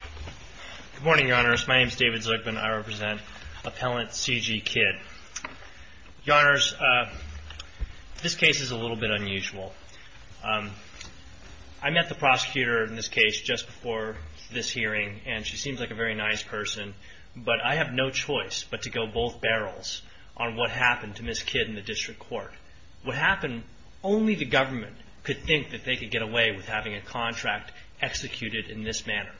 Good morning, Your Honors. My name is David Zuckman. I represent Appellant C. G. Kidd. Your Honors, this case is a little bit unusual. I met the prosecutor in this case just before this hearing, and she seems like a very nice person, but I have no choice but to go both barrels on what happened to Ms. Kidd in the District Court. What happened, only the government could think that they could get away with having a contract executed in this manner.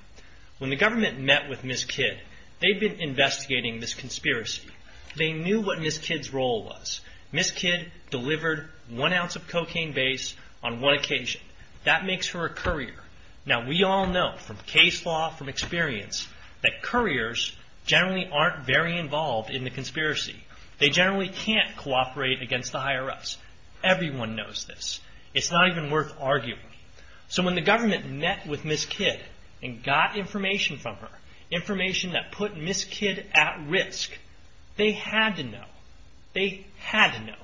When the government met with Ms. Kidd, they'd been investigating this conspiracy. They knew what Ms. Kidd's role was. Ms. Kidd delivered one ounce of cocaine base on one occasion. That makes her a courier. Now, we all know from case law, from experience, that couriers generally aren't very involved in the conspiracy. They generally can't cooperate against the higher-ups. It's not even worth arguing. So when the government met with Ms. Kidd and got information from her, information that put Ms. Kidd at risk, they had to know. They had to know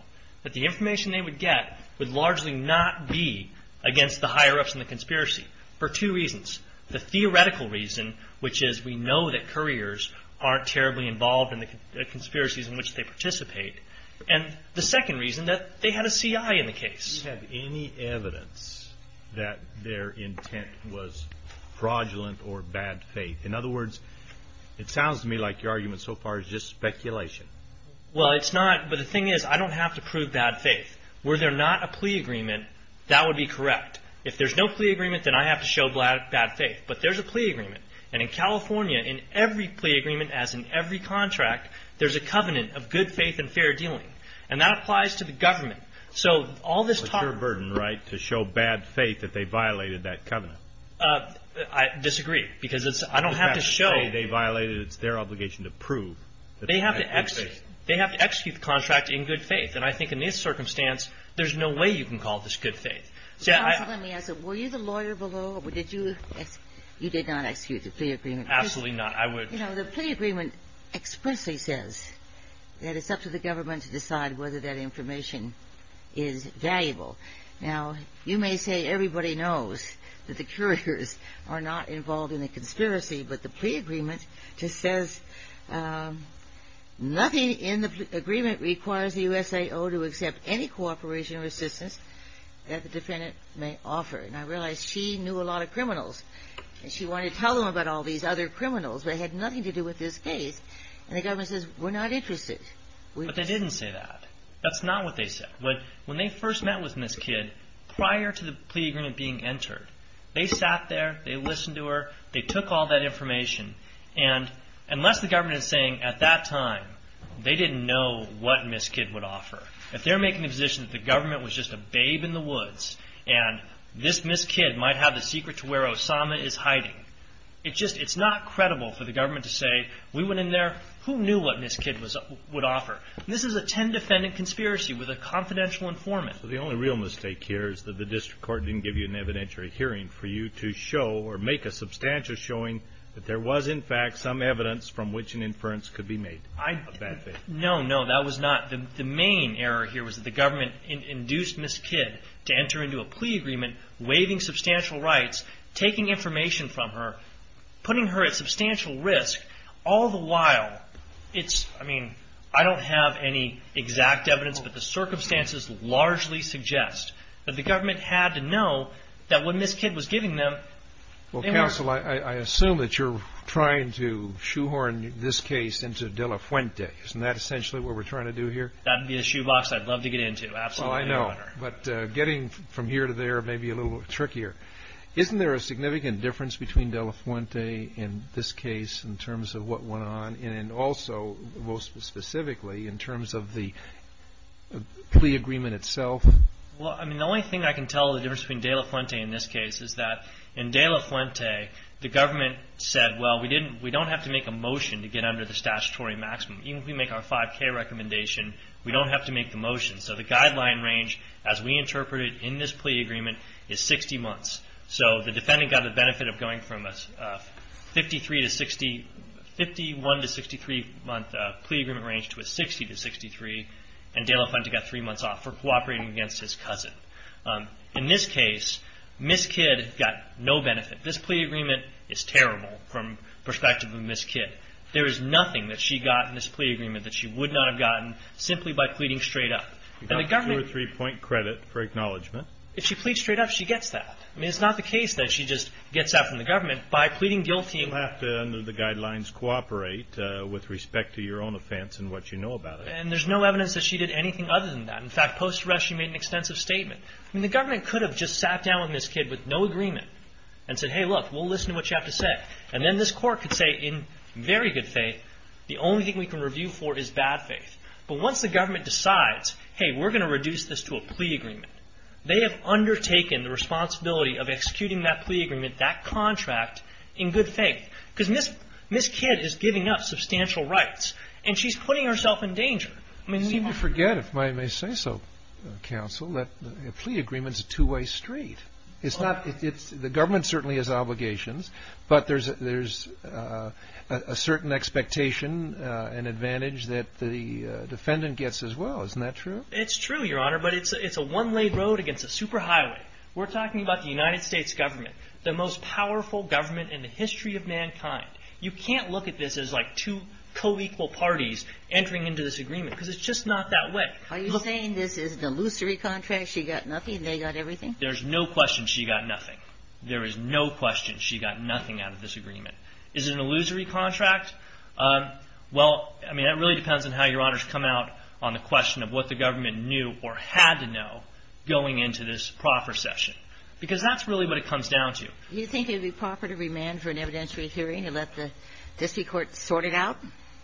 that the information they would get would largely not be against the higher-ups in the conspiracy for two reasons. The theoretical reason, which is we know that couriers aren't terribly involved in the conspiracies in which they participate, and the second reason, that they had a C.I. in the case. Do you have any evidence that their intent was fraudulent or bad faith? In other words, it sounds to me like your argument so far is just speculation. Well, it's not. But the thing is, I don't have to prove bad faith. Were there not a plea agreement, that would be correct. If there's no plea agreement, then I have to show bad faith. But there's a plea agreement. And in California, in every plea agreement, as in every contract, there's a covenant of good faith and fair dealing. And that applies to the government. So all this talk of ---- But it's your burden, right, to show bad faith that they violated that covenant. I disagree. Because I don't have to show ---- They violated it. It's their obligation to prove that they had good faith. They have to execute the contract in good faith. And I think in this circumstance, there's no way you can call this good faith. Counsel, let me ask you. Were you the lawyer below, or did you ---- you did not execute the plea agreement. Absolutely not. I would ---- You know, the plea agreement expressly says that it's up to the government to decide whether that information is valuable. Now, you may say everybody knows that the curators are not involved in the conspiracy. But the plea agreement just says nothing in the agreement requires the USAO to accept any cooperation or assistance that the defendant may offer. And I realize she knew a lot of criminals. And she wanted to tell them about all these other criminals. But it had nothing to do with this case. And the government says, we're not interested. But they didn't say that. That's not what they said. When they first met with Ms. Kidd, prior to the plea agreement being entered, they sat there, they listened to her, they took all that information. And unless the government is saying at that time they didn't know what Ms. Kidd would offer, if they're making the position that the government was just a babe in the woods, and this Ms. Kidd might have the secret to where Osama is hiding, it just ---- it's not credible for the government to say, we went in there, who knew what Ms. Kidd would offer. This is a 10-defendant conspiracy with a confidential informant. So the only real mistake here is that the district court didn't give you an evidentiary hearing for you to show or make a substantial showing that there was in fact some evidence from which an inference could be made. No, no, that was not. The main error here was that the government induced Ms. Kidd to enter into a plea agreement, waiving substantial rights, taking information from her, putting her at substantial risk, all the while it's, I mean, I don't have any exact evidence, but the circumstances largely suggest that the government had to know that when Ms. Kidd was giving them, they were ---- Well, counsel, I assume that you're trying to shoehorn this case into De La Fuente. Isn't that essentially what we're trying to do here? That would be a shoebox I'd love to get into, absolutely. Well, I know. But getting from here to there may be a little trickier. Isn't there a significant difference between De La Fuente in this case in terms of what went on, and also, most specifically, in terms of the plea agreement itself? Well, I mean, the only thing I can tell the difference between De La Fuente in this case is that in De La Fuente, the government said, well, we don't have to make a motion to get under the statutory maximum. Even if we make our 5K recommendation, we don't have to make the motion. So the guideline range, as we interpreted in this plea agreement, is 60 months. So the defendant got the benefit of going from a 53 to 60, 51 to 63 month plea agreement range to a 60 to 63, and De La Fuente got three months off for cooperating against his cousin. In this case, Ms. Kidd got no benefit. This plea agreement is terrible from the perspective of Ms. Kidd. There is nothing that she got in this plea agreement that she would not have gotten simply by pleading straight up. And the government You got two or three point credit for acknowledgement. If she pleads straight up, she gets that. I mean, it's not the case that she just gets that from the government by pleading guilty. You'll have to, under the guidelines, cooperate with respect to your own offense and what you know about it. And there's no evidence that she did anything other than that. In fact, post arrest, she made an extensive statement. I mean, the government could have just sat down with Ms. Kidd with no agreement and said, hey, look, we'll listen to what you have to say. And then this court could say, in very good faith, the only thing we can review for is bad faith. But once the government decides, hey, we're going to reduce this to a plea agreement, they have undertaken the responsibility of executing that plea agreement, that contract, in good faith. Because Ms. Kidd is giving up substantial rights, and she's putting herself in danger. I mean, see what I mean? You seem to forget, if I may say so, counsel, that a plea agreement is a two-way street. It's not the government certainly has obligations, but there's a certain expectation and advantage that the defendant gets as well. Isn't that true? It's true, Your Honor, but it's a one-way road against a superhighway. We're talking about the United States government, the most powerful government in the history of mankind. You can't look at this as like two co-equal parties entering into this agreement, because it's just not that way. Are you saying this is an illusory contract? She got nothing, they got everything? There's no question she got nothing. There is no question she got nothing out of this agreement. Is it an illusory contract? Well, I mean, that really depends on how Your Honor's come out on the question of what the government knew or had to know going into this proffer session, because that's really what it comes down to. Do you think it would be proper to remand for an evidentiary hearing and let the district court sort it out?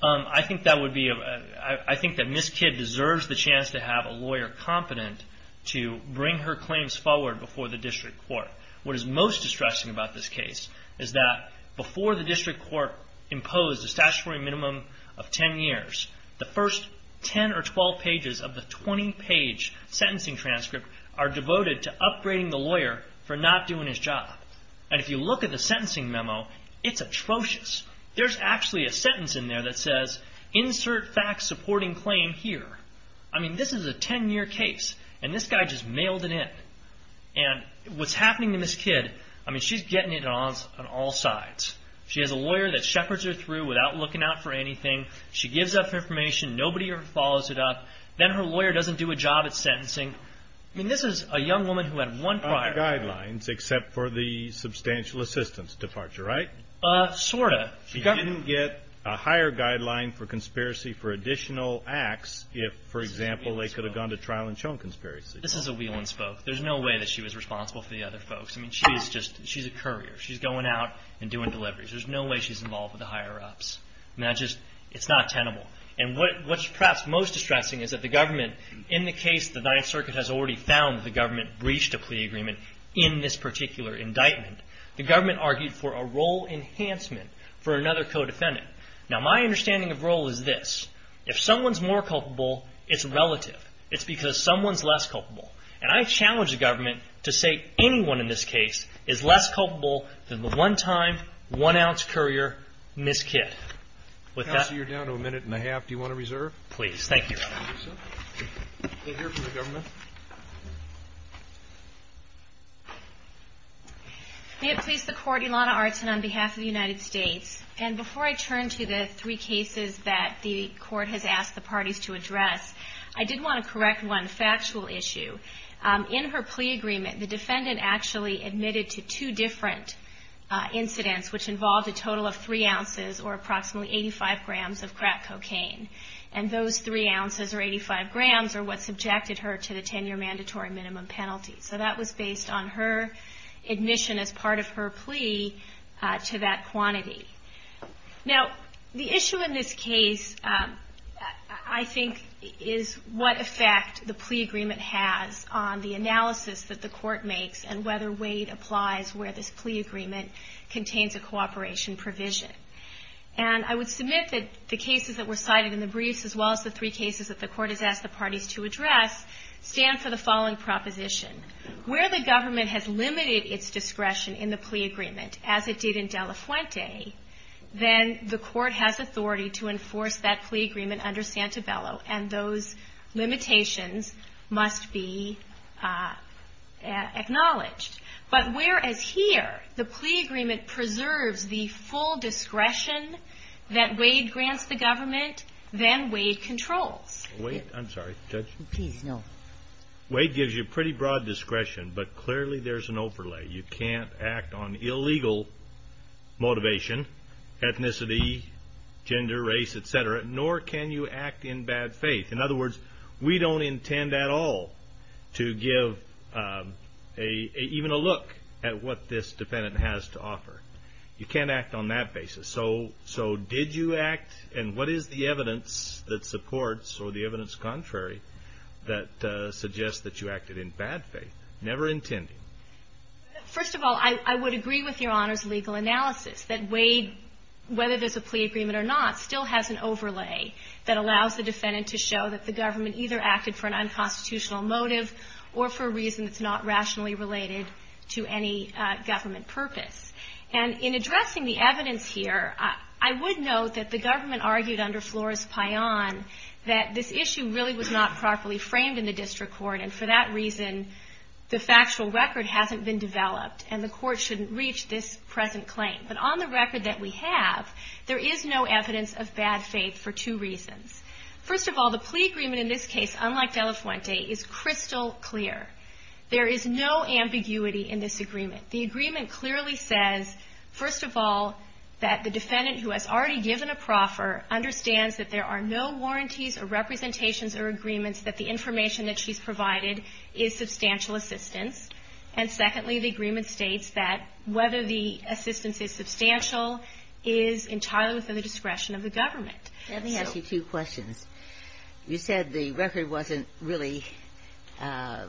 I think that would be a – I think that Ms. Kidd deserves the chance to have a lawyer competent to bring her claims forward before the district court. What is most distressing about this case is that before the district court imposed a statutory minimum of ten years, the first ten or twelve pages of the twenty-page sentencing transcript are devoted to upgrading the lawyer for not doing his job. And if you look at the sentencing memo, it's atrocious. There's actually a sentence in there that says, insert fact-supporting claim here. I mean, this is a ten-year case, and this guy just mailed it in. And what's happening to Ms. Kidd, I mean, she's getting it on all sides. She has a lawyer that shepherds her through without looking out for her. She gives up information. Nobody ever follows it up. Then her lawyer doesn't do a job at sentencing. I mean, this is a young woman who had one prior – No guidelines except for the substantial assistance departure, right? Sort of. She didn't get a higher guideline for conspiracy for additional acts if, for example, they could have gone to trial and shown conspiracy. This is a wheel and spoke. There's no way that she was responsible for the other folks. I mean, she's just – she's a courier. She's going out and doing And what's perhaps most distressing is that the government, in the case the Ninth Circuit has already found that the government breached a plea agreement in this particular indictment, the government argued for a role enhancement for another co-defendant. Now, my understanding of role is this. If someone's more culpable, it's relative. It's because someone's less culpable. And I challenge the government to say anyone in this case is less culpable than the one-time, one-ounce courier, Ms. Kidd. Counsel, you're down to a minute and a half. Do you want to reserve? Please. Thank you. We'll hear from the government. May it please the Court, Ilana Artin on behalf of the United States. And before I turn to the three cases that the Court has asked the parties to address, I did want to correct one factual issue. In her plea agreement, the defendant actually admitted to two different incidents, which involved a total of three ounces, or approximately 85 grams, of crack cocaine. And those three ounces, or 85 grams, are what subjected her to the 10-year mandatory minimum penalty. So that was based on her admission as part of her plea to that quantity. Now, the issue in this case, I think, is what effect the plea agreement has on the analysis that the Court makes and whether Wade applies where this plea agreement contains a cooperation provision. And I would submit that the cases that were cited in the briefs, as well as the three cases that the Court has asked the parties to address, stand for the following proposition. Where the government has limited its discretion in the plea agreement, as it did in De La Fuente, then the Court has authority to enforce that plea agreement under Santabello, and those limitations must be acknowledged. But whereas here, the plea agreement preserves the full discretion that Wade grants the government, then Wade controls. I'm sorry, Judge? Please, no. Wade gives you pretty broad discretion, but clearly there's an overlay. You can't act on illegal motivation, ethnicity, gender, race, et cetera, nor can you act in bad faith. In other words, we don't intend at all to give even a look at what this defendant has to offer. You can't act on that basis. So did you act and what is the evidence that supports or the evidence contrary that suggests that you acted in bad faith, never intending? First of all, I would agree with Your Honor's legal analysis that Wade, whether there's a plea agreement or not, still has an overlay that allows the defendant to show that the government either acted for an unconstitutional motive or for a reason that's not rationally related to any government purpose. And in addressing the evidence here, I would note that the government argued under Flores-Pion that this issue really was not properly framed in the district court, and for that reason, the factual record hasn't been developed and the evidence of bad faith for two reasons. First of all, the plea agreement in this case, unlike De La Fuente, is crystal clear. There is no ambiguity in this agreement. The agreement clearly says, first of all, that the defendant who has already given a proffer understands that there are no warranties or representations or agreements that the information that she's provided is substantial assistance. And secondly, the agreement states that whether the assistance is substantial is entirely within the discretion of the government. Let me ask you two questions. You said the record wasn't really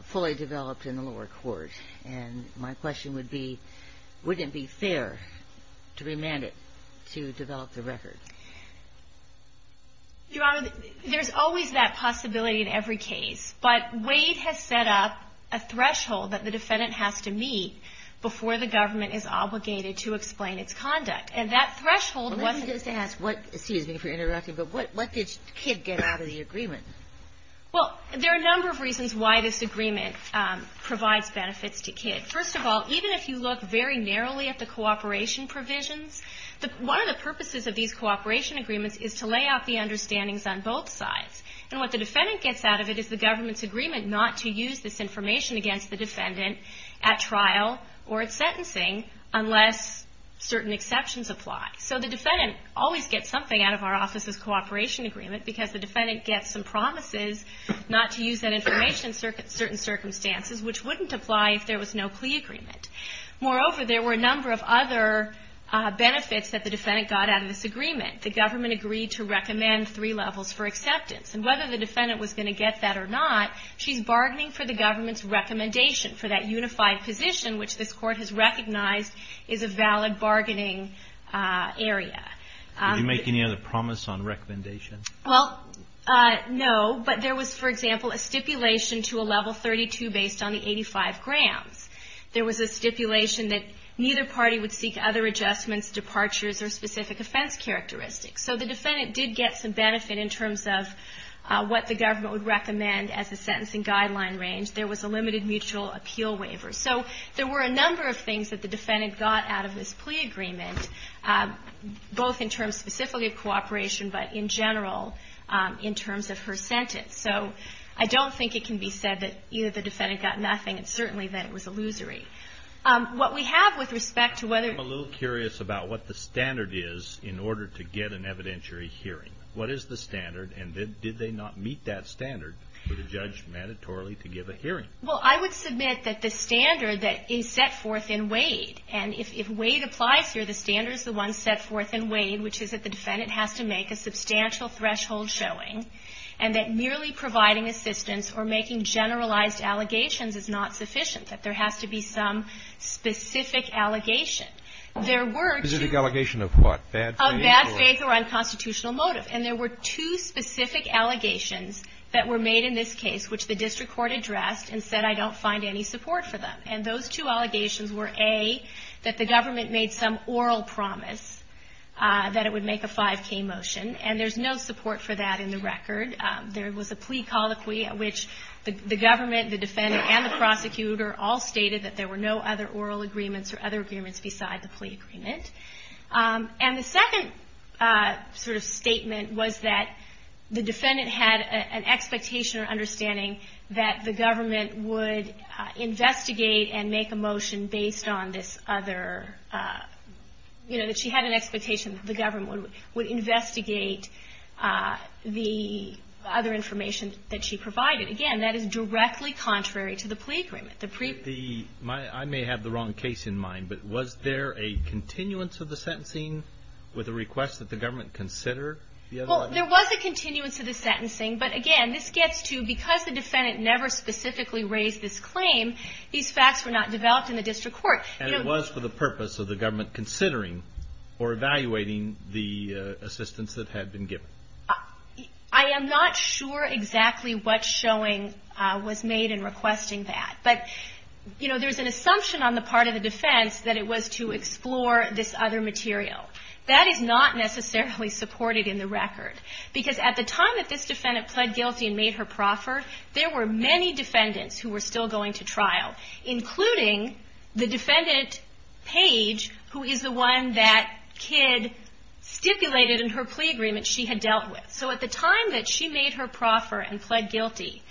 fully developed in the lower court, and my question would be, wouldn't it be fair to remand it to develop the record? Your Honor, there's always that possibility in every case, but Wade has set up a threshold that the defendant has to meet before the government is obligated to accept, and that threshold was Let me just ask, excuse me for interrupting, but what did Kidd get out of the agreement? Well, there are a number of reasons why this agreement provides benefits to Kidd. First of all, even if you look very narrowly at the cooperation provisions, one of the purposes of these cooperation agreements is to lay out the understandings on both sides. And what the defendant gets out of it is the government's agreement not to use this information against the defendant at trial or at So the defendant always gets something out of our office's cooperation agreement because the defendant gets some promises not to use that information in certain circumstances, which wouldn't apply if there was no plea agreement. Moreover, there were a number of other benefits that the defendant got out of this agreement. The government agreed to recommend three levels for acceptance, and whether the defendant was going to get that or not, she's bargaining for the government's recommendation for that unified position, which this court has Can you make any other promise on recommendation? Well, no, but there was, for example, a stipulation to a level 32 based on the 85 grams. There was a stipulation that neither party would seek other adjustments, departures, or specific offense characteristics. So the defendant did get some benefit in terms of what the government would recommend as a sentencing guideline range. There was a limited mutual appeal waiver. So there were a number of things that the defendant got out of this plea agreement, both in terms specifically of cooperation, but in general in terms of her sentence. So I don't think it can be said that either the defendant got nothing, and certainly that it was illusory. What we have with respect to whether I'm a little curious about what the standard is in order to get an evidentiary hearing. What is the standard, and did they not meet that standard for the judge mandatorily to give a hearing? Well, I would submit that the standard that is set forth in Wade, and if Wade applies here, the standard is the one set forth in Wade, which is that the defendant has to make a substantial threshold showing, and that merely providing assistance or making generalized allegations is not sufficient, that there has to be some specific allegation. There were two Specific allegation of what? Bad faith? Of bad faith or unconstitutional motive. And there were two specific allegations that were made in this case, which the district court addressed and said, I don't find any support for them. And those two allegations were, A, that the government made some oral promise that it would make a 5K motion, and there's no support for that in the record. There was a plea colloquy at which the government, the defendant, and the prosecutor all stated that there were no other oral agreements or other agreements beside the plea agreement. And the second sort of statement was that the defendant had an expectation or understanding that the government would investigate and make a motion based on this other, you know, that she had an expectation that the government would investigate the other information that she provided. Again, that is directly contrary to the plea agreement. The pre the I may have the wrong case in mind, but was there a continuance of the sentencing with a request that the government consider the other one? There was a continuance of the sentencing, but again, this gets to because the defendant never specifically raised this claim, these facts were not developed in the district court. And it was for the purpose of the government considering or evaluating the assistance that had been given. I am not sure exactly what showing was made in requesting that. But, you know, there's an assumption on the part of the defense that it was to explore this other record. Because at the time that this defendant pled guilty and made her proffer, there were many defendants who were still going to trial, including the defendant Paige, who is the one that Kidd stipulated in her plea agreement she had dealt with. So at the time that she made her proffer and pled guilty,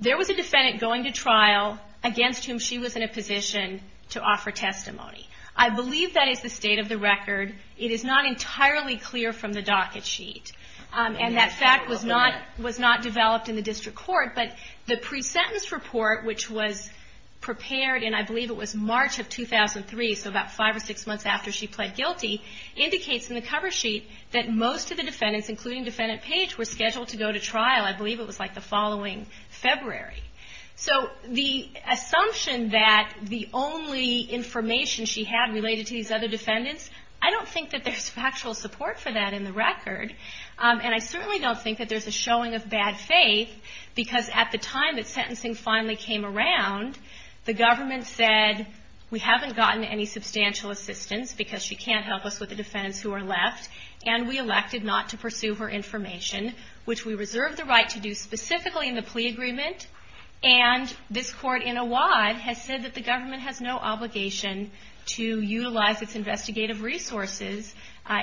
there was a defendant going to trial against whom she was in a position to offer testimony. I believe that is the state of the record. It is not entirely clear from the docket sheet. And that fact was not developed in the district court. But the pre-sentence report, which was prepared in, I believe it was March of 2003, so about five or six months after she pled guilty, indicates in the cover sheet that most of the defendants, including defendant Paige, were scheduled to go to trial, I believe it was like the following February. So the assumption that the only information she had related to these other defendants, I don't think that there's factual support for that in the record. And I certainly don't think that there's a showing of bad faith, because at the time that sentencing finally came around, the government said, we haven't gotten any substantial assistance because she can't help us with the defendants who are left, and we elected not to pursue her information, which we reserved the right to do specifically in the plea agreement. And this court in Awad has said that the government has no obligation to utilize its investigative resources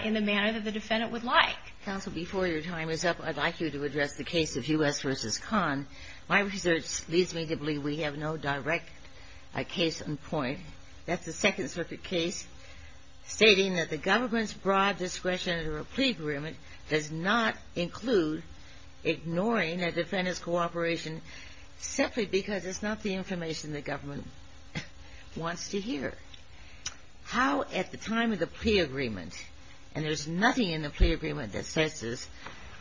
in the manner that the defendant would like. Counsel, before your time is up, I'd like you to address the case of U.S. v. Kahn. My research leads me to believe we have no direct case on point. That's a Second Circuit case stating that the government's broad discretion does not include ignoring a defendant's cooperation simply because it's not the information the government wants to hear. How, at the time of the plea agreement and there's nothing in the plea agreement that says this,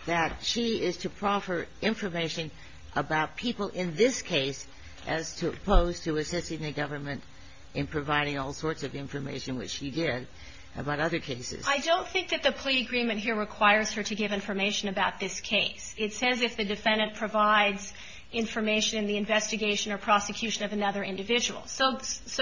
that she is to proffer information about people in this case as opposed to assisting the government in providing all sorts of information, which she did, about other cases. I don't think that the plea agreement here requires her to give information about this case. It says if the defendant provides information in the investigation or prosecution of another individual. So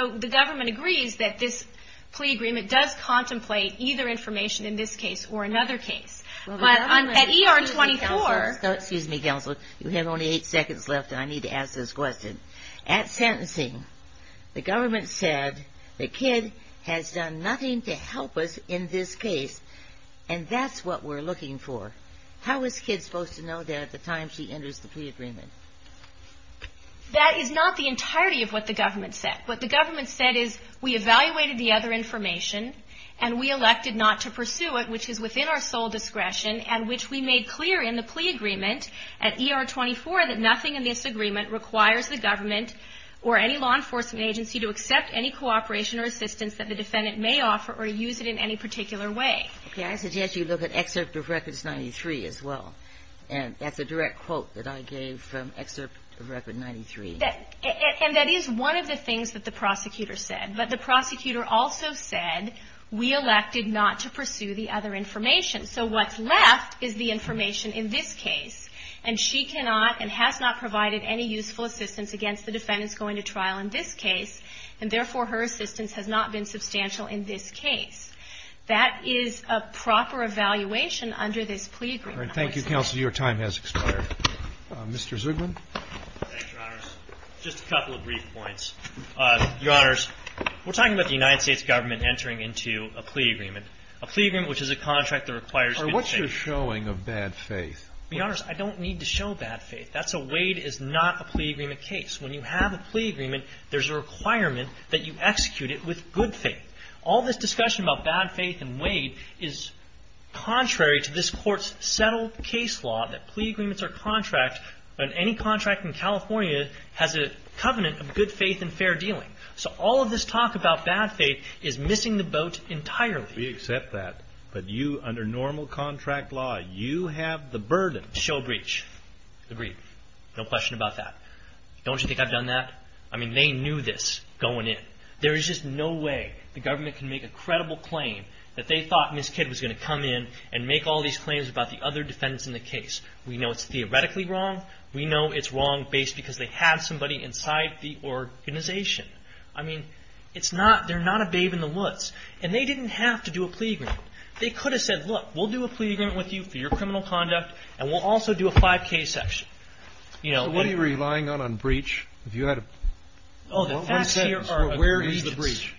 the government agrees that this plea agreement does contemplate either information in this case or another case. Well, the government At ER 24 Excuse me, Counsel. You have only eight seconds left, and I need to ask this question. At sentencing, the government said the kid has done nothing to help us in this case, and that's what we're looking for. How is the kid supposed to know that at the time she enters the plea agreement? That is not the entirety of what the government said. What the government said is we evaluated the other information, and we elected not to pursue it, which is within our sole discretion, and which we made clear in the plea agreement at ER 24 that nothing in this agreement requires the government or any law enforcement agency to accept any cooperation or assistance that the defendant may offer or use it in any particular way. Okay. I suggest you look at Excerpt of Records 93 as well. And that's a direct quote that I gave from Excerpt of Records 93. And that is one of the things that the prosecutor said. But the prosecutor also said we elected not to pursue the other information. So what's left is the information in this case, and she cannot and has not provided any useful assistance against the defendant's going to trial in this case, and therefore, her assistance has not been substantial in this case. That is a proper evaluation under this plea agreement. All right. Thank you, counsel. Your time has expired. Mr. Zugman. Thanks, Your Honors. Just a couple of brief points. Your Honors, we're talking about the United States government entering into a plea agreement, a plea agreement which is a contract that requires good faith. All right. What's your showing of bad faith? Your Honors, I don't need to show bad faith. That's a Wade is not a plea agreement case. When you have a plea agreement, there's a requirement that you execute it with good faith. All this discussion about bad faith and Wade is contrary to this Court's settled case law that plea agreements are contracts, and any contract in California has a covenant of good faith and fair dealing. So all of this talk about bad faith is missing the boat entirely. We accept that, but you, under normal contract law, you have the burden. Show breach. Agreed. No question about that. Don't you think I've done that? I mean, they knew this going in. There is just no way the government can make a credible claim that they thought Ms. Kidd was going to come in and make all these claims about the other defendants in the case. We know it's theoretically wrong. We know it's wrong based because they have somebody inside the organization. I mean, they didn't have to do a plea agreement. They could have said, look, we'll do a plea agreement with you for your criminal conduct, and we'll also do a 5K section. What are you relying on, on breach? Oh, the facts here are a breach. Where is the breach?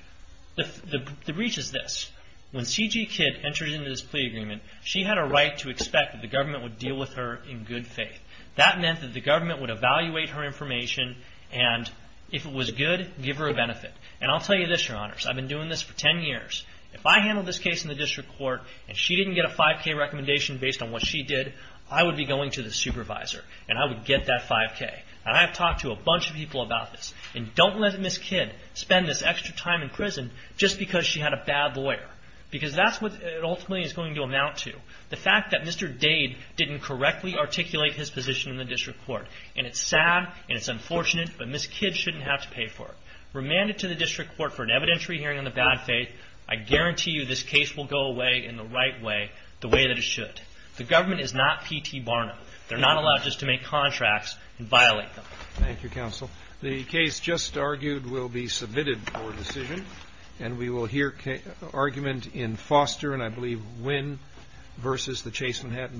The breach is this. When C.G. Kidd entered into this plea agreement, she had a right to expect that the government would deal with her in good faith. That meant that the government would evaluate her information, and if it was good, give her a 5K. If I handled this case in the district court, and she didn't get a 5K recommendation based on what she did, I would be going to the supervisor, and I would get that 5K. And I have talked to a bunch of people about this. And don't let Ms. Kidd spend this extra time in prison just because she had a bad lawyer, because that's what it ultimately is going to amount to, the fact that Mr. Dade didn't correctly articulate his position in the district court. And it's sad, and it's unfortunate, but Ms. Kidd shouldn't have to pay for it. Remanded to the district court for an evidentiary hearing on the bad faith. I guarantee you this case will go away in the right way, the way that it should. The government is not P.T. Barnum. They're not allowed just to make contracts and violate them. Thank you, counsel. The case just argued will be submitted for decision, and we will hear argument in Foster, and I believe Wynn, versus the Chase Manhattan Bank.